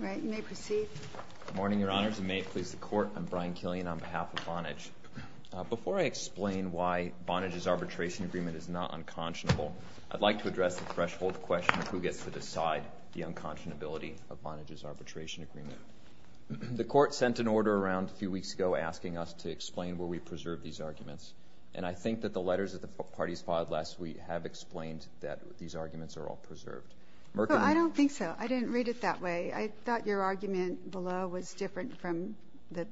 All right, you may proceed. Good morning, Your Honors, and may it please the Court, I'm Brian Killian on behalf of Vonage. Before I explain why Vonage's arbitration agreement is not unconscionable, I'd like to address the threshold question of who gets to decide the unconscionability of Vonage's arbitration agreement. The Court sent an order around a few weeks ago asking us to explain where we preserve these arguments. And I think that the letters that the parties filed last week have explained that these arguments are all preserved. Merkin? I don't think so. I didn't read it that way. I thought your argument below was different from the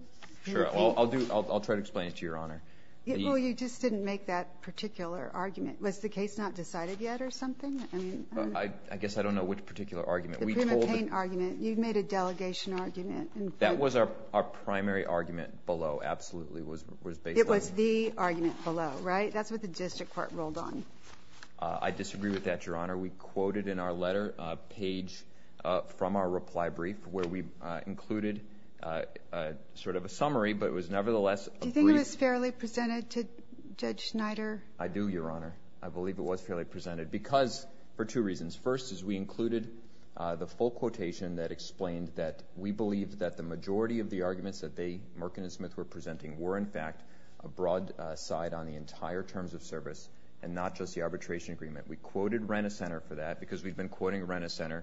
paint. Sure. I'll try to explain it to Your Honor. Well, you just didn't make that particular argument. Was the case not decided yet or something? I guess I don't know which particular argument. The paint argument. You made a delegation argument. That was our primary argument below, absolutely, was based on that. It was the argument below, right? That's what the district court ruled on. I disagree with that, Your Honor. We quoted in our letter a page from our reply brief where we included sort of a summary, but it was nevertheless a brief. Do you think it was fairly presented to Judge Schneider? I do, Your Honor. I believe it was fairly presented because for two reasons. First is we included the full quotation that explained that we believe that the majority of the arguments that they, Merkin and Smith, were presenting were, in fact, a broad side on the entire terms of service and not just the arbitration agreement. We quoted Renner Center for that because we've been quoting Renner Center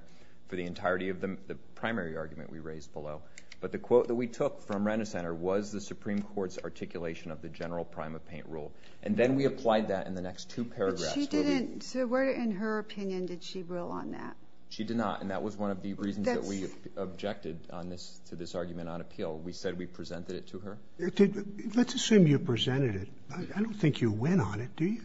for the entirety of the primary argument we raised below. But the quote that we took from Renner Center was the Supreme Court's articulation of the general prime of paint rule. And then we applied that in the next two paragraphs. But she didn't. So where, in her opinion, did she rule on that? She did not. And that was one of the reasons that we objected to this argument on appeal. We said we presented it to her. Let's assume you presented it. I don't think you went on it, do you?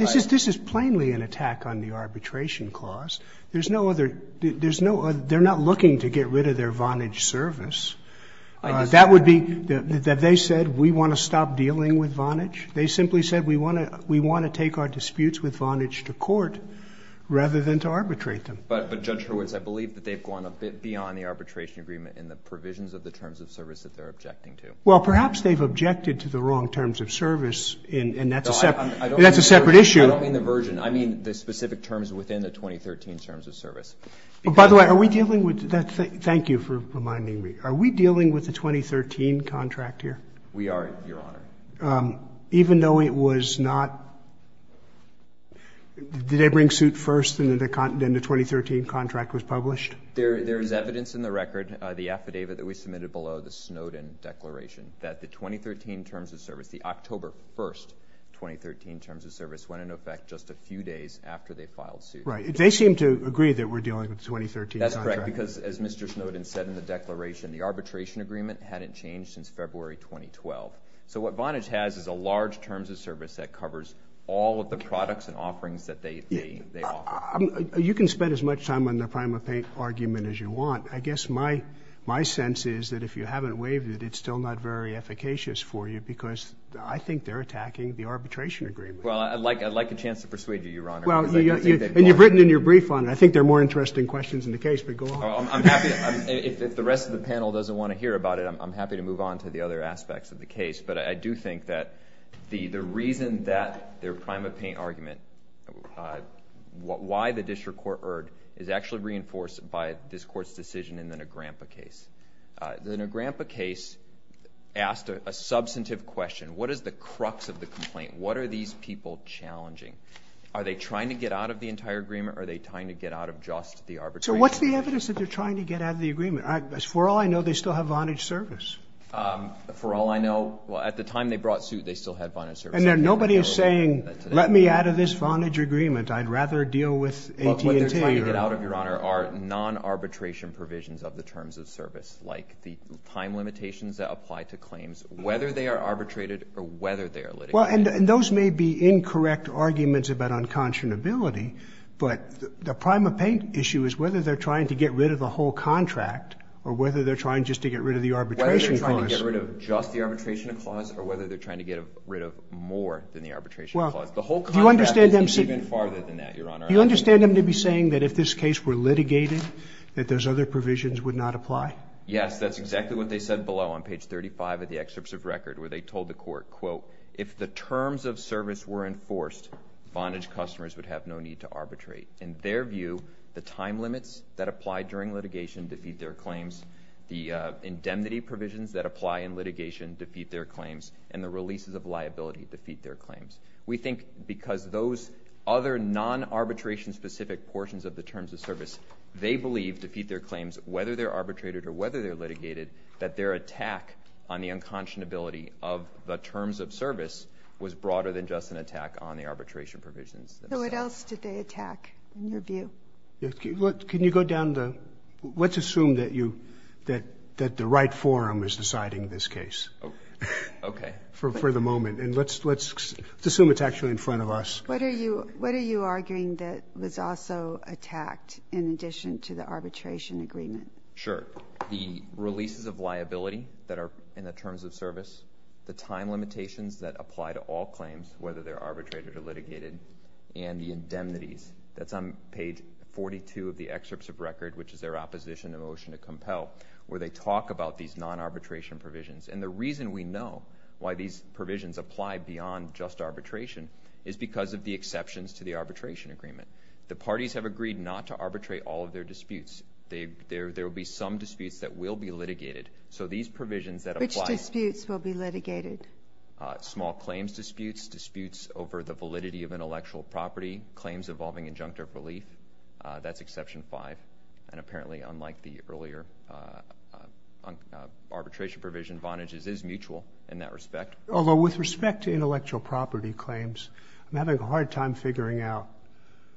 This is plainly an attack on the arbitration clause. There's no other. They're not looking to get rid of their Vonage service. That would be that they said we want to stop dealing with Vonage. They simply said we want to take our disputes with Vonage to court rather than to arbitrate them. But, Judge Hurwitz, I believe that they've gone a bit beyond the arbitration agreement in the provisions of the terms of service that they're objecting to. Well, perhaps they've objected to the wrong terms of service. And that's a separate issue. I don't mean the version. I mean the specific terms within the 2013 terms of service. By the way, are we dealing with that? Thank you for reminding me. Are we dealing with the 2013 contract here? We are, Your Honor. Even though it was not? Did they bring suit first and then the 2013 contract was published? There is evidence in the record, the affidavit that we submitted below the Snowden declaration, that the 2013 terms of service, the October 1st 2013 terms of service, went into effect just a few days after they filed suit. Right. They seem to agree that we're dealing with the 2013 contract. That's correct. Because, as Mr. Snowden said in the declaration, the arbitration agreement hadn't changed since February 2012. So what Vonage has is a large terms of service that covers all of the products and offerings that they offer. You can spend as much time on the prime of payment argument as you want. I guess my sense is that if you haven't waived it, it's still not very efficacious for you, because I think they're attacking the arbitration agreement. Well, I'd like a chance to persuade you, Your Honor. Well, and you've written in your brief on it. I think there are more interesting questions in the case, but go on. I'm happy. If the rest of the panel doesn't want to hear about it, I'm happy to move on to the other aspects of the case. But I do think that the reason that their prime of payment argument, why the district court erred, is actually reinforced by this court's decision in the Negrampa case. The Negrampa case asked a substantive question. What is the crux of the complaint? What are these people challenging? Are they trying to get out of the entire agreement, or are they trying to get out of just the arbitration? So what's the evidence that they're trying to get out of the agreement? For all I know, they still have Vonage service. For all I know, well, at the time they brought suit, they still had Vonage service. And nobody is saying, let me out of this Vonage agreement. I'd rather deal with AT&T. What they're trying to get out of, Your Honor, are non-arbitration provisions of the terms of service, like the time limitations that apply to claims, whether they are arbitrated or whether they are litigated. Well, and those may be incorrect arguments about unconscionability. But the prime of payment issue is whether they're trying to get rid of the whole contract, or whether they're trying just to get rid of the arbitration clause. Whether they're trying to get rid of just the arbitration clause, or whether they're trying to get rid of more than the arbitration clause. The whole contract is even farther than that, Your Honor. Do you understand them to be saying that if this case were litigated, that those other provisions would not apply? Yes, that's exactly what they said below, on page 35 of the excerpts of record, where they told the court, quote, if the terms of service were enforced, Vonage customers would have no need to arbitrate. In their view, the time limits that apply during litigation defeat their claims. The indemnity provisions that apply in litigation defeat their claims. And the releases of liability defeat their claims. We think because those other non-arbitration specific portions of the terms of service, they believe, defeat their claims, whether they're arbitrated or whether they're litigated, that their attack on the unconscionability of the terms of service was broader than just an attack on the arbitration provisions. So what else did they attack, in your view? Can you go down the, let's assume that the right forum is deciding this case, for the moment. And let's assume it's actually in front of us. What are you arguing that was also attacked, in addition to the arbitration agreement? Sure, the releases of liability that are in the terms of service, the time limitations that apply to all claims, whether they're arbitrated or litigated, and the indemnities. That's on page 42 of the excerpts of record, which is their opposition to motion to compel, where they talk about these non-arbitration provisions. And the reason we know why these provisions apply beyond just arbitration is because of the exceptions to the arbitration agreement. The parties have agreed not to arbitrate all of their disputes. There will be some disputes that will be litigated. So these provisions that apply. Which disputes will be litigated? Small claims disputes, disputes over the validity of intellectual property, claims involving injunctive relief. That's exception five. And apparently, unlike the earlier arbitration provision, Vonage's is mutual in that respect. Although, with respect to intellectual property claims, I'm having a hard time figuring out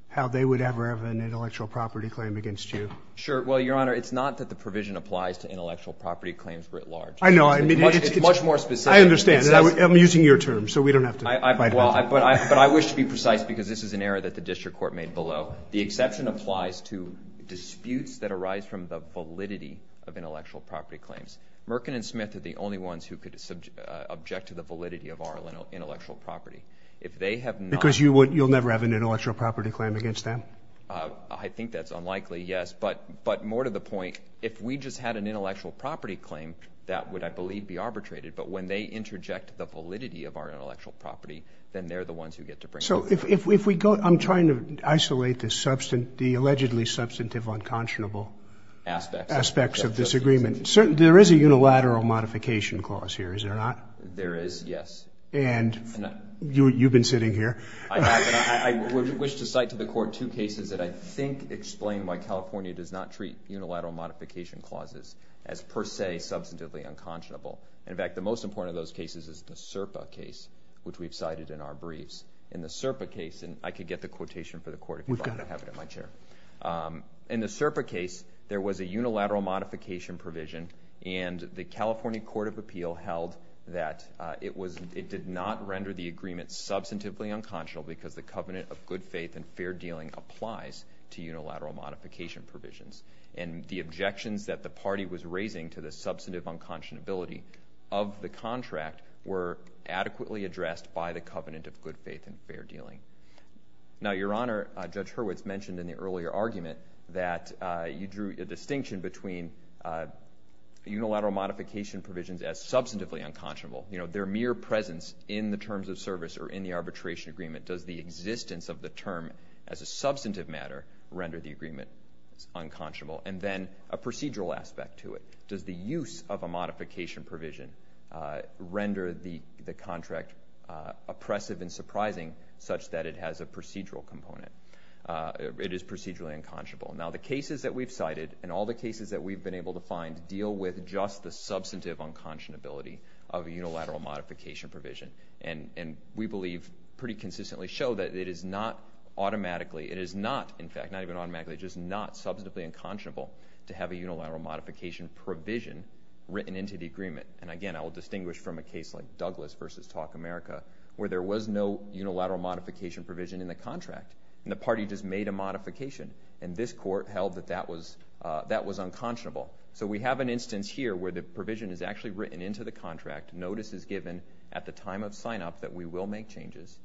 how they would ever have an intellectual property claim against you. Sure, well, Your Honor, it's not that the provision applies to intellectual property claims writ large. I know, I mean, it's much more specific. I understand. I'm using your terms, so we don't have to fight about it. But I wish to be precise, because this is an error that the district court made below. The exception applies to disputes that arise from the validity of intellectual property claims. Merkin and Smith are the only ones who could object to the validity of our intellectual property. If they have not- Because you'll never have an intellectual property claim against them? I think that's unlikely, yes. But more to the point, if we just had an intellectual property claim, that would, I believe, be arbitrated. But when they interject the validity of our intellectual property, then they're the ones who get to bring- So if we go, I'm trying to isolate the allegedly substantive unconscionable- Aspects. Aspects of this agreement. There is a unilateral modification clause here, is there not? There is, yes. And you've been sitting here. I have, and I wish to cite to the court two cases that I think explain why California does not treat unilateral modification clauses as per se substantively unconscionable. In fact, the most important of those cases is the SERPA case, which we've cited in our briefs. In the SERPA case, and I could get the quotation In the SERPA case, there was a unilateral modification provision, and the California Court of Appeal held that it did not render the agreement substantively unconscionable because the covenant of good faith and fair dealing applies to unilateral modification provisions. And the objections that the party was raising to the substantive unconscionability of the contract were adequately addressed by the covenant of good faith and fair dealing. in the earlier argument that you drew a distinction between unilateral modification provisions as substantively unconscionable, their mere presence in the terms of service or in the arbitration agreement. Does the existence of the term as a substantive matter render the agreement unconscionable? And then a procedural aspect to it. Does the use of a modification provision render the contract oppressive and surprising such that it has a procedural component? It is procedurally unconscionable. Now the cases that we've cited and all the cases that we've been able to find deal with just the substantive unconscionability of a unilateral modification provision. And we believe pretty consistently show that it is not automatically, it is not, in fact, not even automatically, just not substantively unconscionable to have a unilateral modification provision written into the agreement. And again, I will distinguish from a case like Douglas versus Talk America, where there was no unilateral modification provision in the contract, and the party just made a modification. And this court held that that was unconscionable. So we have an instance here where the provision is actually written into the contract. Notice is given at the time of sign-up that we will make changes.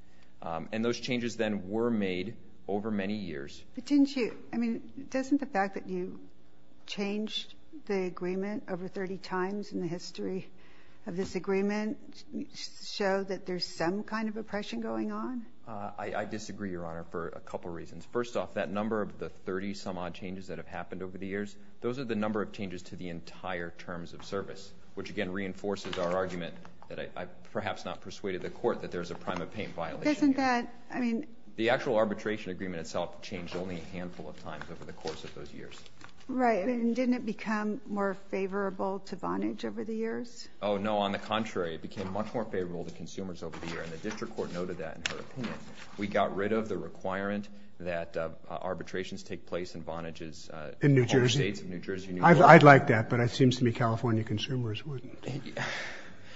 And those changes then were made over many years. But didn't you, I mean, doesn't the fact that you changed the agreement over 30 times in the history of this agreement show that there's some kind of oppression going on? I disagree, Your Honor, for a couple reasons. First off, that number of the 30-some-odd changes that have happened over the years, those are the number of changes to the entire terms of service, which, again, reinforces our argument that I've perhaps not persuaded the court that there's a prime-of-pain violation here. Doesn't that, I mean? The actual arbitration agreement itself changed only a handful of times over the course of those years. Right, and didn't it become more favorable to Vonage over the years? Oh, no, on the contrary. It became much more favorable to consumers over the year, and the district court noted that in her opinion. We got rid of the requirement that arbitrations take place in Vonage's In New Jersey? States of New Jersey. I'd like that, but it seems to me California consumers wouldn't.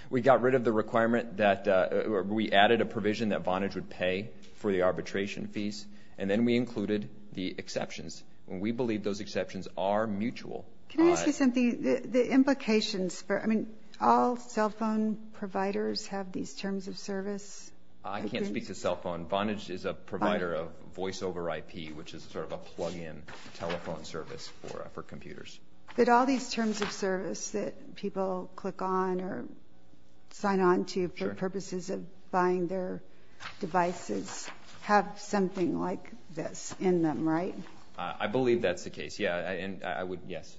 We got rid of the requirement that, we added a provision that Vonage would pay for the arbitration fees, and then we included the exceptions, and we believe those exceptions are mutual. Can I ask you something? The implications for, I mean, all cell phone providers have these terms of service? I can't speak to cell phone. Vonage is a provider of voiceover IP, which is sort of a plug-in telephone service for computers. But all these terms of service that people click on or sign on to for purposes of buying their devices have something like this in them, right? I believe that's the case, yeah, and I would, yes.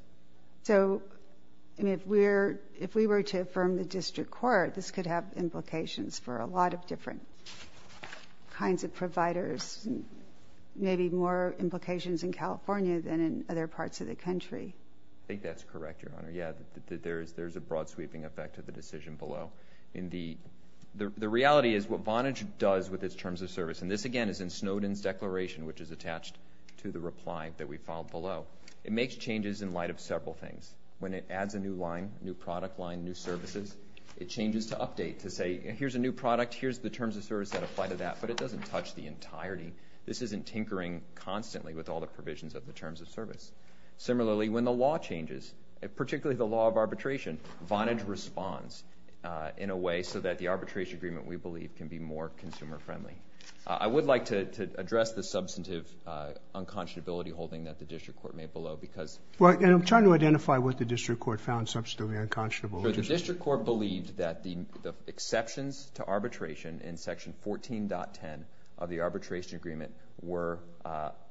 So, I mean, if we were to affirm the district court, this could have implications for a lot of different kinds of providers, maybe more implications in California than in other parts of the country. I think that's correct, Your Honor. Yeah, there's a broad-sweeping effect of the decision below. In the, the reality is what Vonage does with its terms of service, and this, again, is in Snowden's declaration, which is attached to the reply that we filed below. It makes changes in light of several things. When it adds a new line, new product line, new services, it changes to update to say, here's a new product, here's the terms of service that apply to that, but it doesn't touch the entirety. This isn't tinkering constantly with all the provisions of the terms of service. Similarly, when the law changes, particularly the law of arbitration, Vonage responds in a way so that the arbitration agreement, we believe, can be more consumer-friendly. I would like to address the substantive unconscionability holding that the district court made below because. Well, and I'm trying to identify what the district court found substantively unconscionable. The district court believed that the exceptions to arbitration in section 14.10 of the arbitration agreement were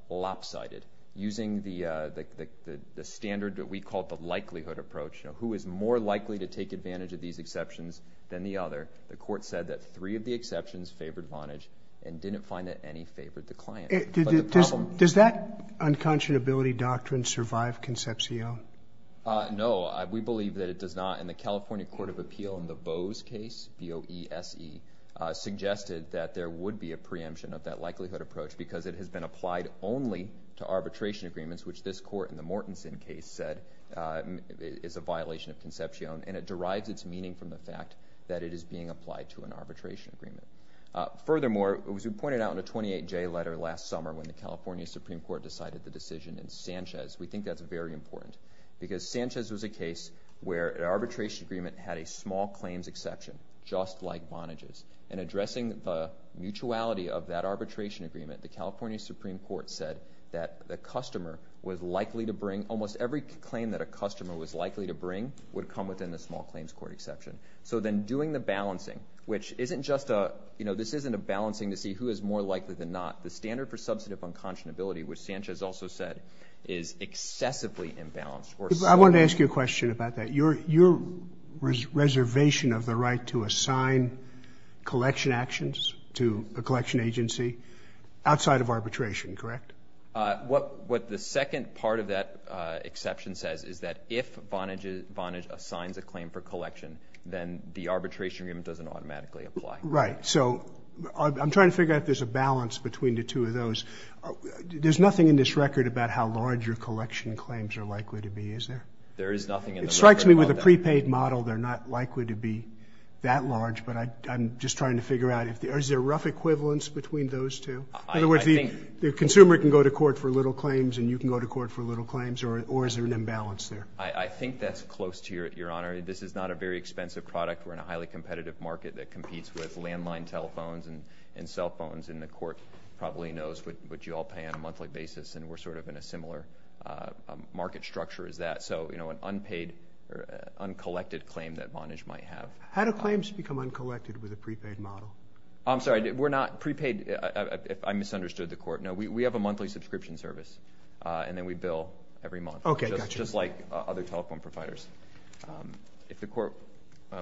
lopsided using the standard that we call the likelihood approach. Who is more likely to take advantage of these exceptions than the other? The court said that three of the exceptions favored Vonage and didn't find that any favored the client. Does that unconscionability doctrine survive Concepcion? No, we believe that it does not, and the California Court of Appeal in the Boese case, B-O-E-S-E, suggested that there would be a preemption of that likelihood approach because it has been applied only to arbitration agreements, which this court in the Mortensen case said is a violation of Concepcion, and it derives its meaning from the fact that it is being applied to an arbitration agreement. Furthermore, as we pointed out in a 28J letter last summer when the California Supreme Court decided the decision in Sanchez, we think that's very important because Sanchez was a case where an arbitration agreement had a small claims exception, just like Vonage's, and addressing the mutuality of that arbitration agreement, the California Supreme Court said that the customer was likely to bring, almost every claim that a customer was likely to bring would come within the small claims court exception. So then doing the balancing, which isn't just a, you know, this isn't a balancing to see who is more likely than not. The standard for substantive unconscionability, which Sanchez also said, is excessively imbalanced. I wanted to ask you a question about that. Your reservation of the right to assign collection actions to a collection agency outside of arbitration, correct? What the second part of that exception says is that if Vonage assigns a claim for collection, then the arbitration agreement doesn't automatically apply. Right, so I'm trying to figure out if there's a balance between the two of those. There's nothing in this record about how large your collection claims are likely to be, is there? There is nothing in the record about that. It strikes me with a prepaid model they're not likely to be that large, but I'm just trying to figure out if there's a rough equivalence between those two. In other words, the consumer can go to court for little claims, and you can go to court for little claims, or is there an imbalance there? I think that's close to your honor. This is not a very expensive product. We're in a highly competitive market that competes with landline telephones and cell phones, and the court probably knows what you all pay on a monthly basis, and we're sort of in a similar market structure as that. So, you know, an unpaid, uncollected claim that Vonage might have. How do claims become uncollected with a prepaid model? I'm sorry, we're not, prepaid, I misunderstood the court. No, we have a monthly subscription service, and then we bill every month. Okay, gotcha. Just like other telephone providers. If the court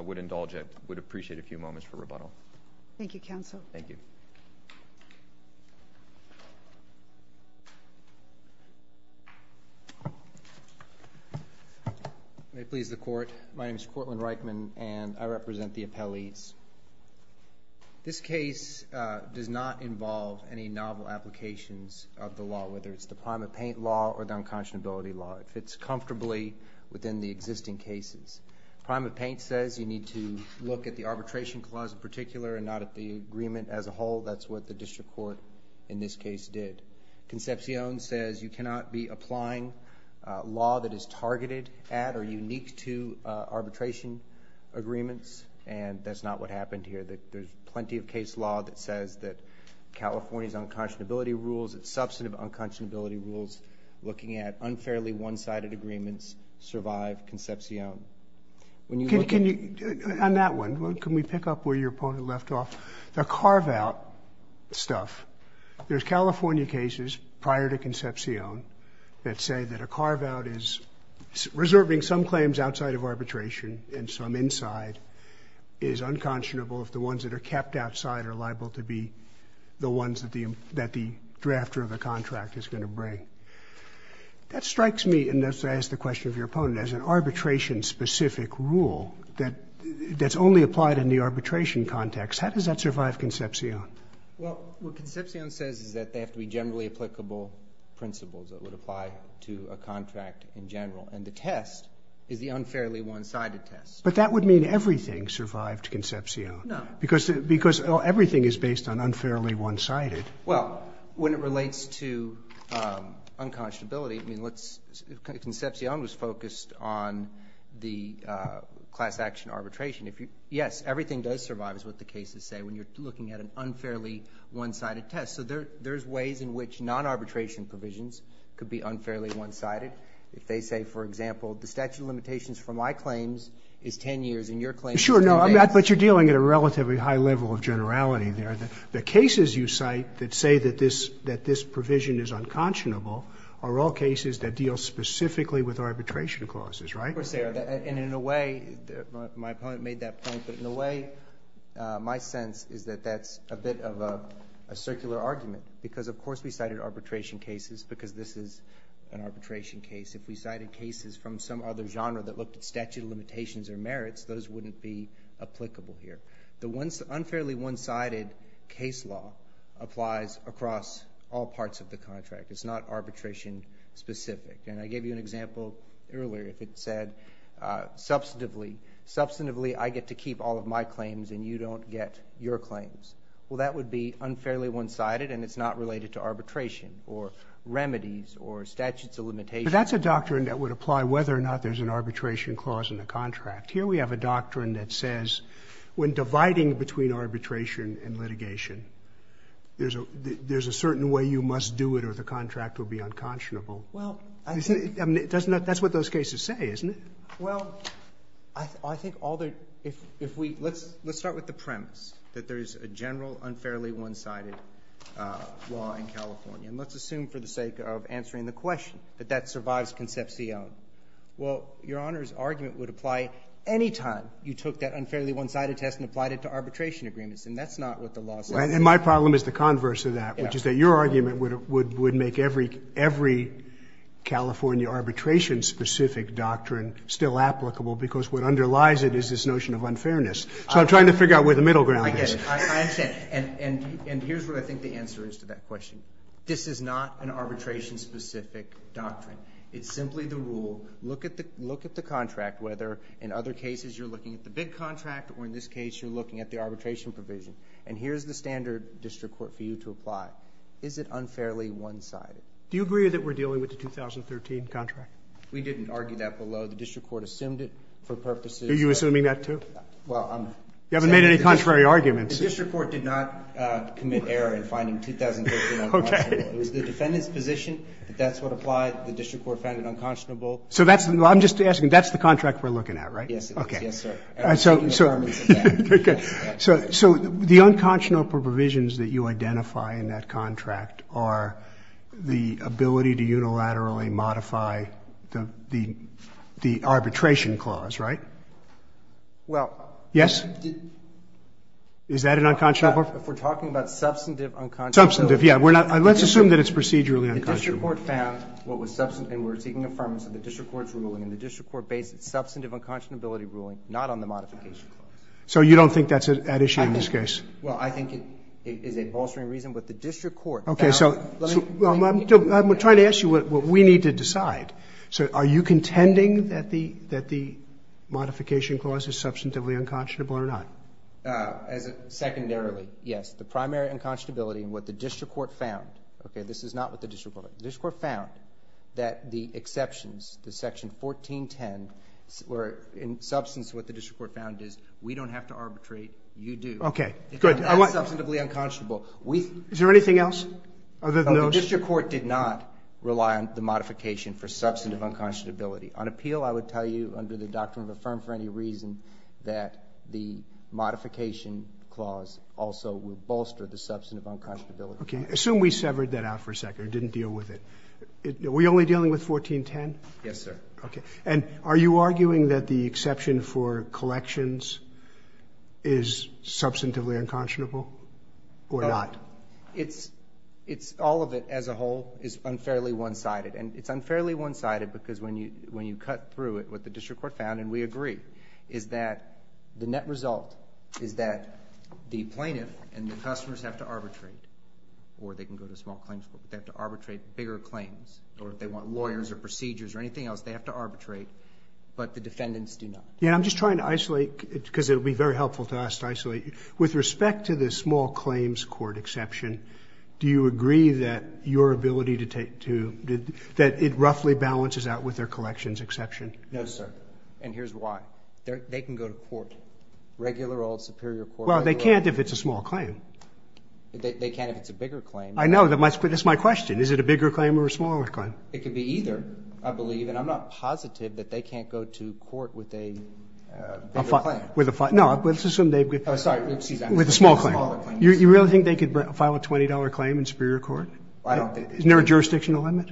would indulge it, would appreciate a few moments for rebuttal. Thank you, counsel. Thank you. May it please the court. My name is Cortland Reichman, and I represent the appellees. This case does not involve any novel applications of the law, whether it's the prime of paint law or the unconscionability law. It fits comfortably within the existing cases. Prime of paint says you need to look at the arbitration clause in particular and not at the agreement as a whole. That's what the district court, in this case, did. Concepcion says you cannot be applying a law that is targeted at or unique to arbitration agreements, and that's not what happened here. There's plenty of case law that says that California's unconscionability rules, its substantive unconscionability rules, looking at unfairly one-sided agreements survive Concepcion. When you look at- Can you, on that one, can we pick up where your opponent left off? The carve-out stuff, there's California cases prior to Concepcion that say that a carve-out is reserving some claims outside of arbitration and some inside is unconscionable if the ones that are kept outside are liable to be the ones that the drafter of the contract is gonna bring. That strikes me, and that's why I asked the question of your opponent, as an arbitration-specific rule that's only applied in the arbitration context. How does that survive Concepcion? Well, what Concepcion says is that they have to be generally applicable principles that would apply to a contract in general, and the test is the unfairly one-sided test. But that would mean everything survived Concepcion. No. Because everything is based on unfairly one-sided. Well, when it relates to unconscionability, I mean, let's, Concepcion was focused on the class-action arbitration. Yes, everything does survive, is what the cases say, when you're looking at an unfairly one-sided test. So there's ways in which non-arbitration provisions could be unfairly one-sided. If they say, for example, the statute of limitations for my claims is 10 years, and your claim is 10 days. Sure, no, but you're dealing at a relatively high level of generality there. The cases you cite that say that this provision is unconscionable are all cases that deal specifically with arbitration clauses, right? Of course, and in a way, my opponent made that point, but in a way, my sense is that that's a bit of a circular argument. Because of course we cited arbitration cases, because this is an arbitration case. If we cited cases from some other genre that looked at statute of limitations or merits, those wouldn't be applicable here. The unfairly one-sided case law applies across all parts of the contract. It's not arbitration specific. And I gave you an example earlier. It said, substantively, I get to keep all of my claims, and you don't get your claims. Well, that would be unfairly one-sided, and it's not related to arbitration or remedies or statutes of limitations. But that's a doctrine that would apply whether or not there's an arbitration clause in the contract. Here we have a doctrine that says, when dividing between arbitration and litigation, there's a certain way you must do it, or the contract will be unconscionable. I mean, that's what those cases say, isn't it? Well, I think all that, if we, let's start with the premise that there is a general unfairly one-sided law in California. And let's assume, for the sake of answering the question, that that survives concepcion. Well, Your Honor's argument would apply any time you took that unfairly one-sided test and applied it to arbitration agreements. And that's not what the law says. And my problem is the converse of that, which is that your argument would make every California arbitration-specific doctrine still applicable, because what underlies it is this notion of unfairness. So I'm trying to figure out where the middle ground is. I understand. And here's what I think the answer is to that question. This is not an arbitration-specific doctrine. It's simply the rule, look at the contract, whether in other cases you're looking at the big contract, or in this case, you're looking at the arbitration provision. And here's the standard district court for you to apply. Is it unfairly one-sided? Do you agree that we're dealing with the 2013 contract? We didn't argue that below. The district court assumed it for purposes of Are you assuming that, too? Well, I'm You haven't made any contrary arguments. The district court did not commit error in finding 2013 unconscionable. It was the defendant's position that that's what applied. The district court found it unconscionable. So I'm just asking, that's the contract we're looking at, right? Yes, it is. Yes, sir. So the unconscionable provisions that you identify in that contract are the ability to unilaterally modify the arbitration clause, right? Well, Yes? Is that an unconscionable? If we're talking about substantive unconscionability. Substantive, yeah. We're not, let's assume that it's procedurally unconscionable. The district court found what was substantive, and we're taking affirmance of the district court's ruling, and the district court based its substantive unconscionability ruling not on the modification clause. So you don't think that's at issue in this case? Well, I think it is a bolstering reason, but the district court found. OK, so I'm trying to ask you what we need to decide. So are you contending that the modification clause is substantively unconscionable or not? Secondarily, yes. The primary unconscionability in what the district court found, OK, this is not what the district court found, the district court found that the exceptions to section 1410 were in substance what the district court found is we don't have to arbitrate. OK, good. That's substantively unconscionable. Is there anything else other than those? The district court did not rely on the modification for substantive unconscionability. On appeal, I would tell you under the doctrine of affirm for any reason that the modification clause also will bolster the substantive unconscionability. OK, assume we severed that out for a second or didn't deal with it. Are we only dealing with 1410? Yes, sir. OK. And are you arguing that the exception for collections is substantively unconscionable or not? It's all of it as a whole is unfairly one-sided. And it's unfairly one-sided because when you cut through it, what the district court found, and we agree, is that the net result is that the plaintiff and the customers have to arbitrate. Or they can go to small claims court. They have to arbitrate bigger claims. Or if they want lawyers or procedures or anything else, they have to arbitrate. But the defendants do not. Yeah, I'm just trying to isolate because it would be very helpful to us to isolate you. With respect to the small claims court exception, do you agree that your ability to take to, that it roughly balances out with their collections exception? No, sir. And here's why. They can go to court, regular old superior court. Well, they can't if it's a small claim. They can't if it's a bigger claim. I know, but that's my question. Is it a bigger claim or a smaller claim? It could be either, I believe. And I'm not positive that they can't go to court with a bigger claim. No, let's assume they've got a small claim. You really think they could file a $20 claim in superior court? I don't think they could. Isn't there a jurisdictional limit?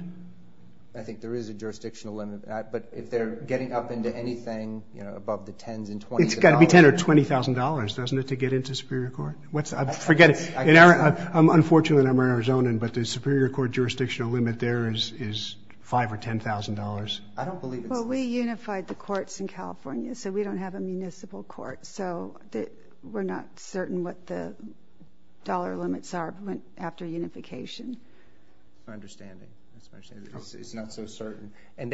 I think there is a jurisdictional limit. But if they're getting up into anything above the $10,000 and $20,000. It's got to be $10,000 or $20,000, doesn't it, to get into superior court? Forget it. I'm unfortunately not an Arizonan, but the superior court jurisdictional limit there is $5,000 or $10,000. I don't believe it's that. Well, we unified the courts in California, so we don't have a municipal court. So we're not certain what the dollar limits are after unification. My understanding, that's what I'm saying, is not so certain. And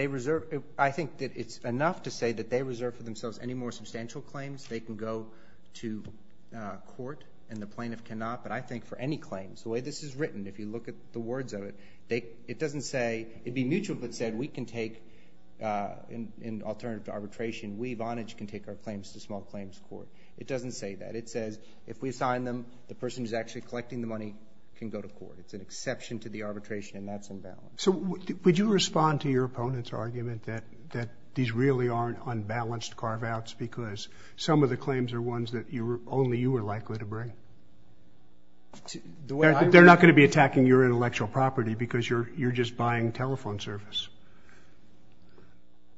I think that it's enough to say that they reserve for themselves any more substantial claims. They can go to court, and the plaintiff cannot. But I think for any claims, the way this is written, if you look at the words of it, it doesn't say, it'd be mutual, but said, we can take, in alternative to arbitration, we, Vonage, can take our claims to small claims court. It doesn't say that. It says, if we assign them, the person who's actually collecting the money can go to court. It's an exception to the arbitration, and that's unbalanced. So would you respond to your opponent's argument that these really aren't unbalanced carve-outs, because some of the claims are ones that only you are likely to bring? They're not going to be attacking your intellectual property, because you're just buying telephone service.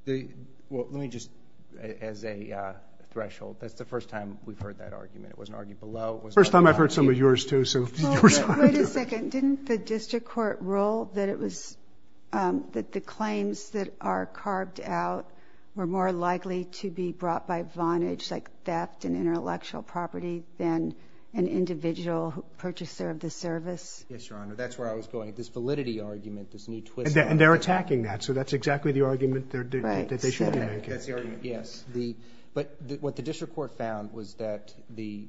Well, let me just, as a threshold, that's the first time we've heard that argument. It wasn't argued below. First time I've heard some of yours, too, so you respond. Wait a second. Didn't the district court rule that it was that the claims that are carved out were more likely to be brought by Vonage, like theft and intellectual property, than an individual purchaser of the service? Yes, Your Honor. That's where I was going. This validity argument, this new twist. And they're attacking that. So that's exactly the argument that they should be making. That's the argument, yes. But what the district court found was that the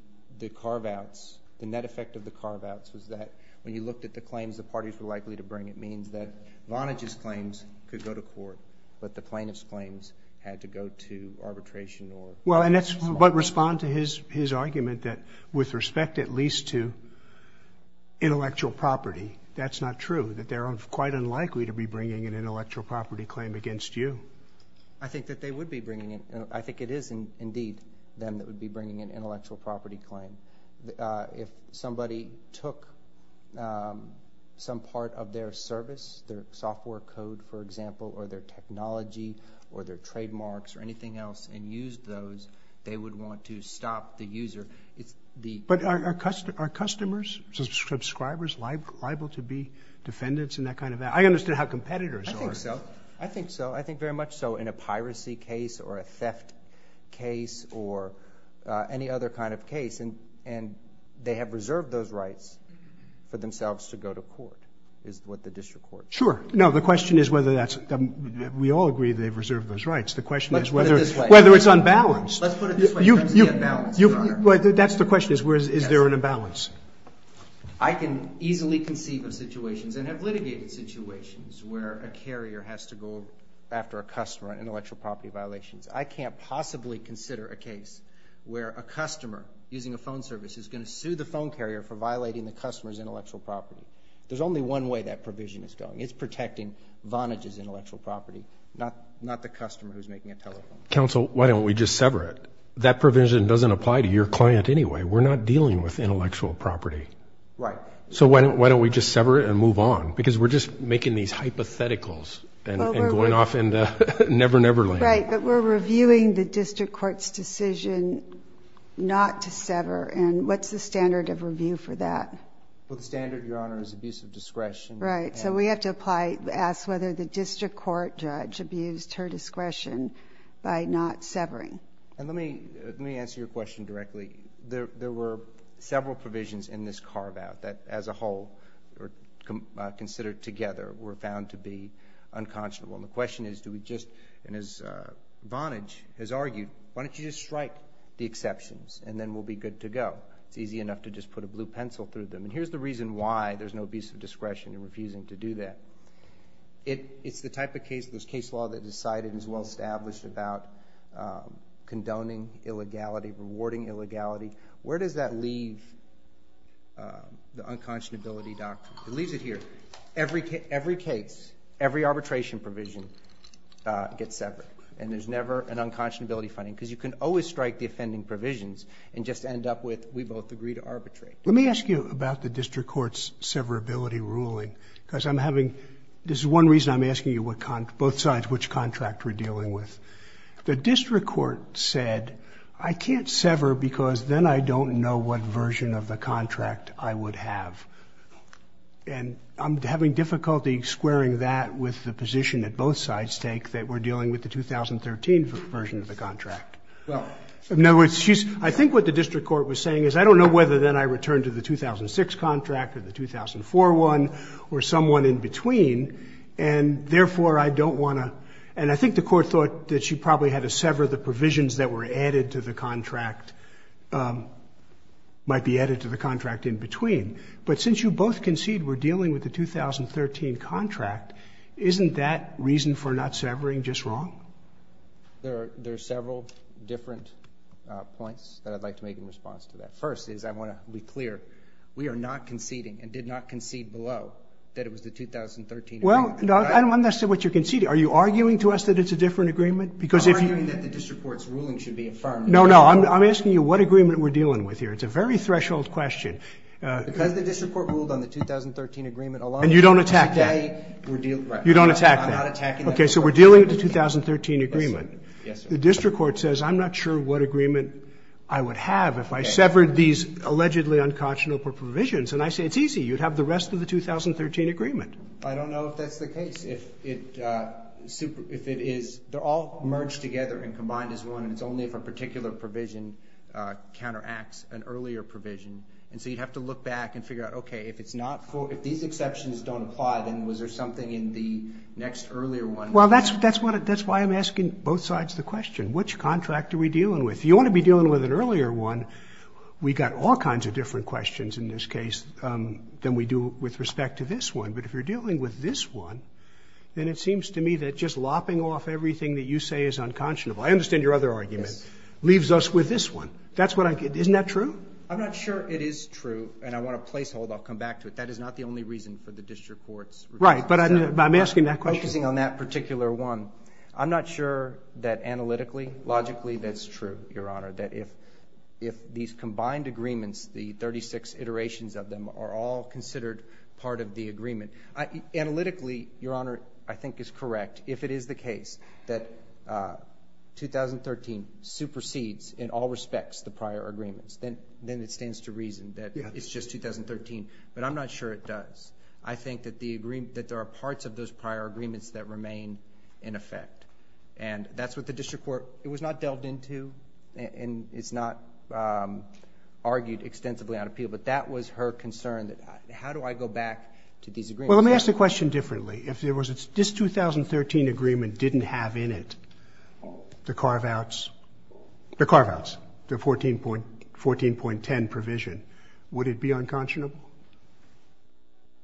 carve-outs, the net effect of the carve-outs was that, when you looked at the claims the parties were likely to bring, it means that Vonage's claims could go to court, but the plaintiff's claims had to go to arbitration. Well, but respond to his argument that, with respect at least to intellectual property, that's not true. That they're quite unlikely to be bringing an intellectual property claim against you. I think that they would be bringing it. I think it is, indeed, them that would be bringing an intellectual property claim. If somebody took some part of their service, their software code, for example, or their technology, or their trademarks, or anything else, and used those, they would want to stop the user. But are customers, subscribers, liable to be defendants and that kind of thing? I understood how competitors are. I think so. I think so. I think very much so in a piracy case, or a theft case, or any other kind of case. And they have reserved those rights for themselves to go to court, is what the district court says. Sure. No, the question is whether that's, we all agree they've reserved those rights. Let's put it this way. Whether it's unbalanced. Let's put it this way in terms of the imbalance, Your Honor. That's the question is, is there an imbalance? I can easily conceive of situations, and have litigated situations, where a carrier has to go after a customer on intellectual property violations. I can't possibly consider a case where a customer, using a phone service, is going to sue the phone carrier for violating the customer's intellectual property. There's only one way that provision is going. It's protecting Vonage's intellectual property, not the customer who's making a telephone call. Counsel, why don't we just sever it? That provision doesn't apply to your client anyway. We're not dealing with intellectual property. Right. So why don't we just sever it and move on? Because we're just making these hypotheticals, and going off into never, never land. Right, but we're reviewing the district court's decision not to sever. And what's the standard of review for that? Well, the standard, Your Honor, is abuse of discretion. Right. So we have to ask whether the district court judge abused her discretion by not severing. And let me answer your question directly. There were several provisions in this carve-out that, as a whole, considered together, were found to be unconscionable. And the question is, do we just, and as Vonage has argued, why don't you just strike the exceptions, and then we'll be good to go? It's easy enough to just put a blue pencil through them. And here's the reason why there's no abuse of discretion in refusing to do that. It's the type of case, this case law, that decided and is well-established about condoning illegality, rewarding illegality. Where does that leave the unconscionability doctrine? It leaves it here. Every case, every arbitration provision gets severed. And there's never an unconscionability finding, because you can always strike the offending provisions and just end up with, we both agree to arbitrate. Let me ask you about the district court's severability ruling, because I'm having, this is one reason I'm asking you both sides which contract we're dealing with. The district court said, I can't sever, because then I don't know what version of the contract I would have. And I'm having difficulty squaring that with the position that both sides take, that we're dealing with the 2013 version of the contract. In other words, I think what the district court was saying is, I don't know whether then I return to the 2006 contract or the 2004 one, or someone in between. And therefore, I don't want to. And I think the court thought that she probably had to sever the provisions that were added to the contract, might be added to the contract in between. But since you both concede we're dealing with the 2013 contract, isn't that reason for not severing just wrong? There are several different points that I'd like to make in response to that. First is, I want to be clear, we are not conceding, and did not concede below, that it was the 2013 agreement. Well, I don't understand what you're conceding. Are you arguing to us that it's a different agreement? I'm arguing that the district court's ruling should be affirmed. No, no. I'm asking you what agreement we're dealing with here. It's a very threshold question. Because the district court ruled on the 2013 agreement alone. And you don't attack that. You don't attack that. I'm not attacking that. OK, so we're dealing with the 2013 agreement. The district court says, I'm not sure what agreement I would have if I severed these allegedly unconscionable provisions. And I say, it's easy. You'd have the rest of the 2013 agreement. I don't know if that's the case. If it is, they're all merged together and combined as one. And it's only if a particular provision counteracts an earlier provision. And so you'd have to look back and figure out, OK, if these exceptions don't apply, then was there something in the next earlier one? Well, that's why I'm asking both sides the question. Which contract are we dealing with? If you want to be dealing with an earlier one, we got all kinds of different questions in this case than we do with respect to this one. But if you're dealing with this one, then it seems to me that just lopping off everything that you say is unconscionable, I understand your other argument, leaves us with this one. That's what I get. Isn't that true? I'm not sure it is true. And I want a placehold. I'll come back to it. That is not the only reason for the district court's request. Right, but I'm asking that question. Focusing on that particular one, I'm not sure that analytically, logically, that's true, Your Honor, that if these combined agreements, the 36 iterations of them, are all considered part of the agreement. Analytically, Your Honor, I think is correct, if it is the case that 2013 supersedes in all respects the prior agreements, then it stands to reason that it's just 2013. But I'm not sure it does. I think that there are parts of those prior agreements that remain in effect. And that's what the district court, it was not delved into, and it's not argued extensively on appeal. But that was her concern, that how do I go back to these agreements? Well, let me ask the question differently. If this 2013 agreement didn't have in it the carve-outs, the 14.10 provision, would it be unconscionable?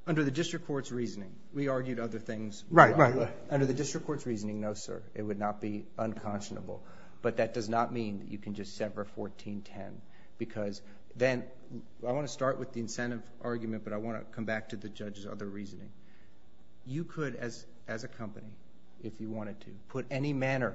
Under the district court's reasoning, we argued other things. Right, right. Under the district court's reasoning, no, sir. It would not be unconscionable. But that does not mean you can just sever 14.10. Because then, I want to start with the incentive argument, but I want to come back to the judge's other reasoning. You could, as a company, if you wanted to, put any manner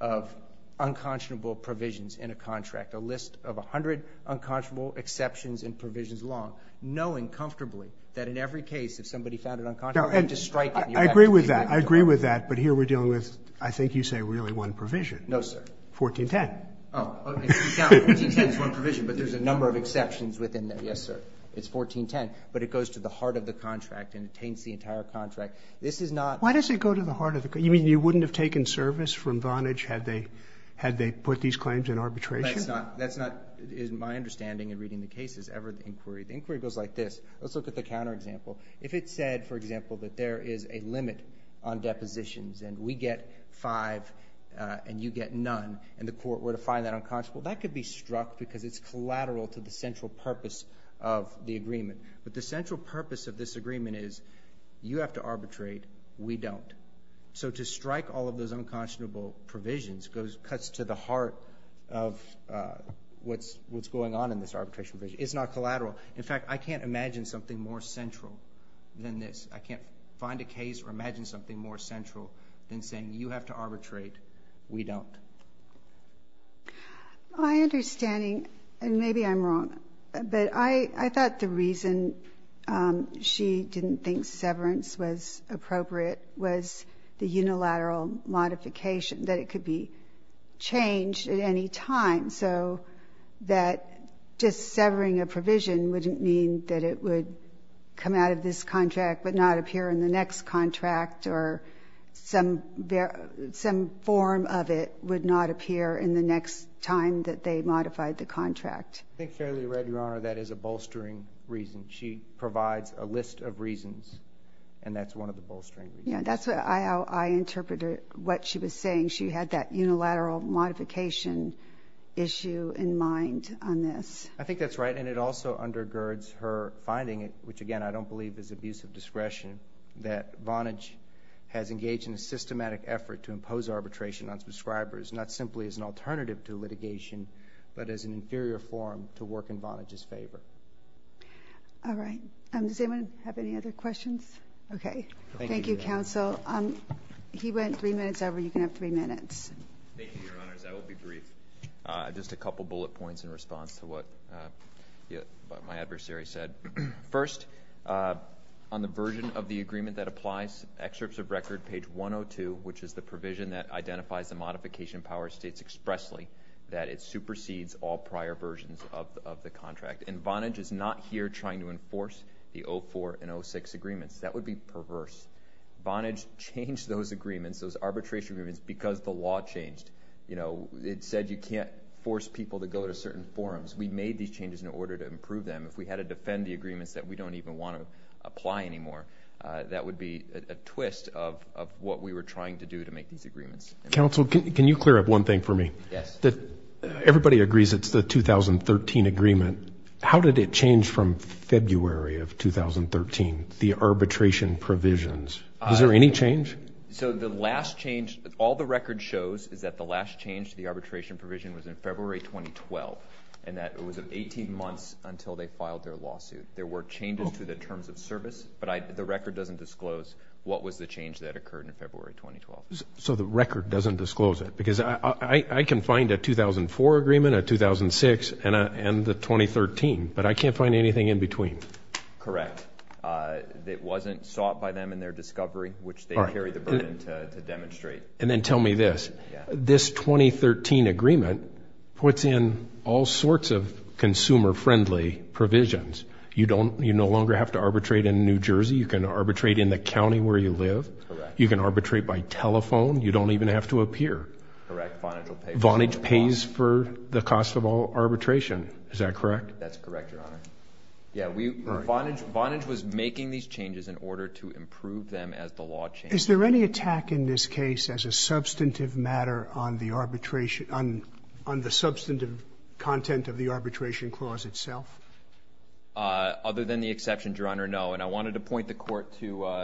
of unconscionable provisions in a contract, a list of 100 unconscionable exceptions and provisions long, knowing comfortably that in every case, if somebody found it unconscionable, you have to strike it. I agree with that. I agree with that. But here we're dealing with, I think you say, really one provision. No, sir. 14.10. Oh, 14.10 is one provision, but there's a number of exceptions within there. Yes, sir. It's 14.10. But it goes to the heart of the contract and attains the entire contract. This is not. Why does it go to the heart of the contract? You mean you wouldn't have taken service from Vonage had they put these claims in arbitration? That's not, is my understanding in reading the cases, ever the inquiry. The inquiry goes like this. Let's look at the counterexample. If it said, for example, that there is a limit on depositions and we get five and you get none and the court were to find that unconscionable, that could be struck because it's collateral to the central purpose of the agreement. But the central purpose of this agreement is you have to arbitrate, we don't. So to strike all of those unconscionable provisions cuts to the heart of what's going on in this arbitration provision. It's not collateral. In fact, I can't imagine something more central than this. I can't find a case or imagine something more central than saying you have to arbitrate, we don't. My understanding, and maybe I'm wrong, but I thought the reason she didn't think severance was appropriate was the unilateral modification, that it could be changed at any time. So that just severing a provision wouldn't mean that it would come out of this contract, but not appear in the next contract, or some form of it would not appear in the next time that they modified the contract. I think fairly right, Your Honor. That is a bolstering reason. She provides a list of reasons, and that's one of the bolstering reasons. Yeah, that's how I interpreted what she was saying. She had that unilateral modification issue in mind on this. I think that's right. And it also undergirds her finding, which again, I don't believe is abuse of discretion, that Vonage has engaged in a systematic effort to impose arbitration on subscribers, not simply as an alternative to litigation, but as an inferior form to work in Vonage's favor. All right, does anyone have any other questions? OK, thank you, counsel. He went three minutes over. You can have three minutes. Thank you, Your Honors. I will be brief. Just a couple bullet points in response to what my adversary said. First, on the version of the agreement that applies, excerpts of record page 102, which is the provision that identifies the modification power, states expressly that it supersedes all prior versions of the contract. And Vonage is not here trying to enforce the 04 and 06 agreements. That would be perverse. Vonage changed those agreements, those arbitration agreements, because the law changed. It said you can't force people to go to certain forums. We made these changes in order to improve them. If we had to defend the agreements that we don't even want to apply anymore, that would be a twist of what we were trying to do to make these agreements. Counsel, can you clear up one thing for me? Yes. Everybody agrees it's the 2013 agreement. How did it change from February of 2013, the arbitration provisions? Is there any change? So the last change, all the record shows is that the last change to the arbitration provision was in February 2012, and that it was 18 months until they filed their lawsuit. There were changes to the terms of service, but the record doesn't disclose what was the change that occurred in February 2012. So the record doesn't disclose it? Because I can find a 2004 agreement, a 2006, and the 2013, but I can't find anything in between. Correct. It wasn't sought by them in their discovery, which they carry the burden to demonstrate. And then tell me this. This 2013 agreement puts in all sorts of consumer-friendly provisions. You no longer have to arbitrate in New Jersey. You can arbitrate in the county where you live. You can arbitrate by telephone. You don't even have to appear. Vonage pays for the cost of all arbitration. Is that correct? That's correct, Your Honor. Yeah, Vonage was making these changes in order to improve them as the law changed. Is there any attack in this case as a substantive matter on the arbitration, on the substantive content of the arbitration clause itself? Other than the exception, Your Honor, no. And I wanted to point the court to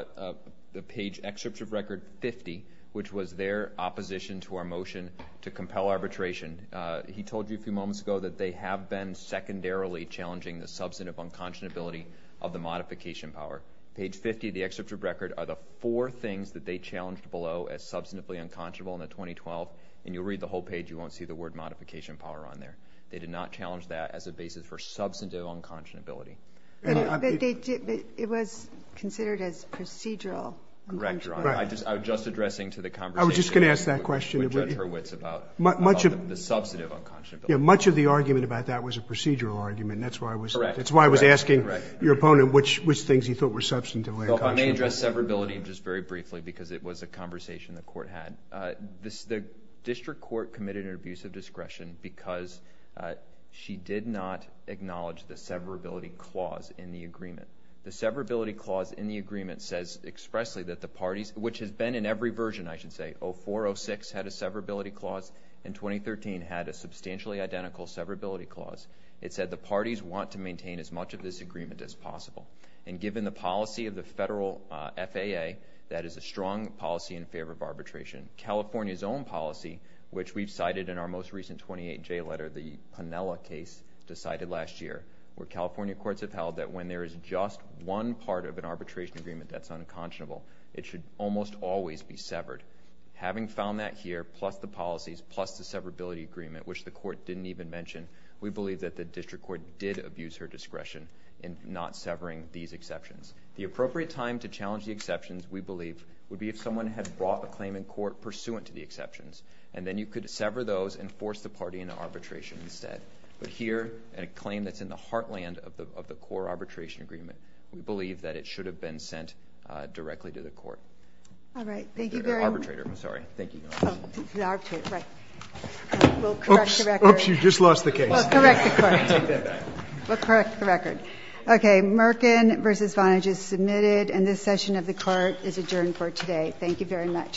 the page excerpt of record 50, which was their opposition to our motion to compel arbitration. He told you a few moments ago that they have been secondarily challenging the substantive unconscionability of the modification power. Page 50 of the excerpt of record are the four things that they challenged below as substantively unconscionable in the 2012. And you'll read the whole page. You won't see the word modification power on there. They did not challenge that as a basis for substantive unconscionability. It was considered as procedural. Correct, Your Honor. I was just addressing to the conversation. I was just going to ask that question. We judge her wits about the substantive unconscionability. Yeah, much of the argument about that was a procedural argument. And that's why I was asking your opponent which things he thought were substantively unconscionable. I may address severability just very briefly, because it was a conversation the court had. The district court committed an abuse of discretion because she did not acknowledge the severability clause in the agreement. The severability clause in the agreement says expressly that the parties, which has been in every version, I should say, 04, 06 had a severability clause, and 2013 had a substantially identical severability clause. It said the parties want to maintain as much of this agreement as possible. And given the policy of the federal FAA, that is a strong policy in favor of arbitration. California's own policy, which we've cited in our most recent 28J letter, the Penella case decided last year, where California courts have held that when there is just one part of an arbitration agreement that's unconscionable, it should almost always be severed. Having found that here, plus the policies, plus the severability agreement, which the court didn't even mention, we believe that the district court did abuse her discretion in not severing these exceptions. The appropriate time to challenge the exceptions, we believe, would be if someone had brought a claim in court pursuant to the exceptions. And then you could sever those and force the party into arbitration instead. But here, a claim that's in the heartland of the core arbitration agreement, we believe that it should have been sent directly to the court. All right, thank you very much. Arbitrator, I'm sorry. Thank you. Oh, the arbitrator, right. We'll correct the record. Oops, you just lost the case. We'll correct the court. We'll correct the record. OK, Merkin v. Vonage is submitted. And this session of the court is adjourned for today. Thank you very much.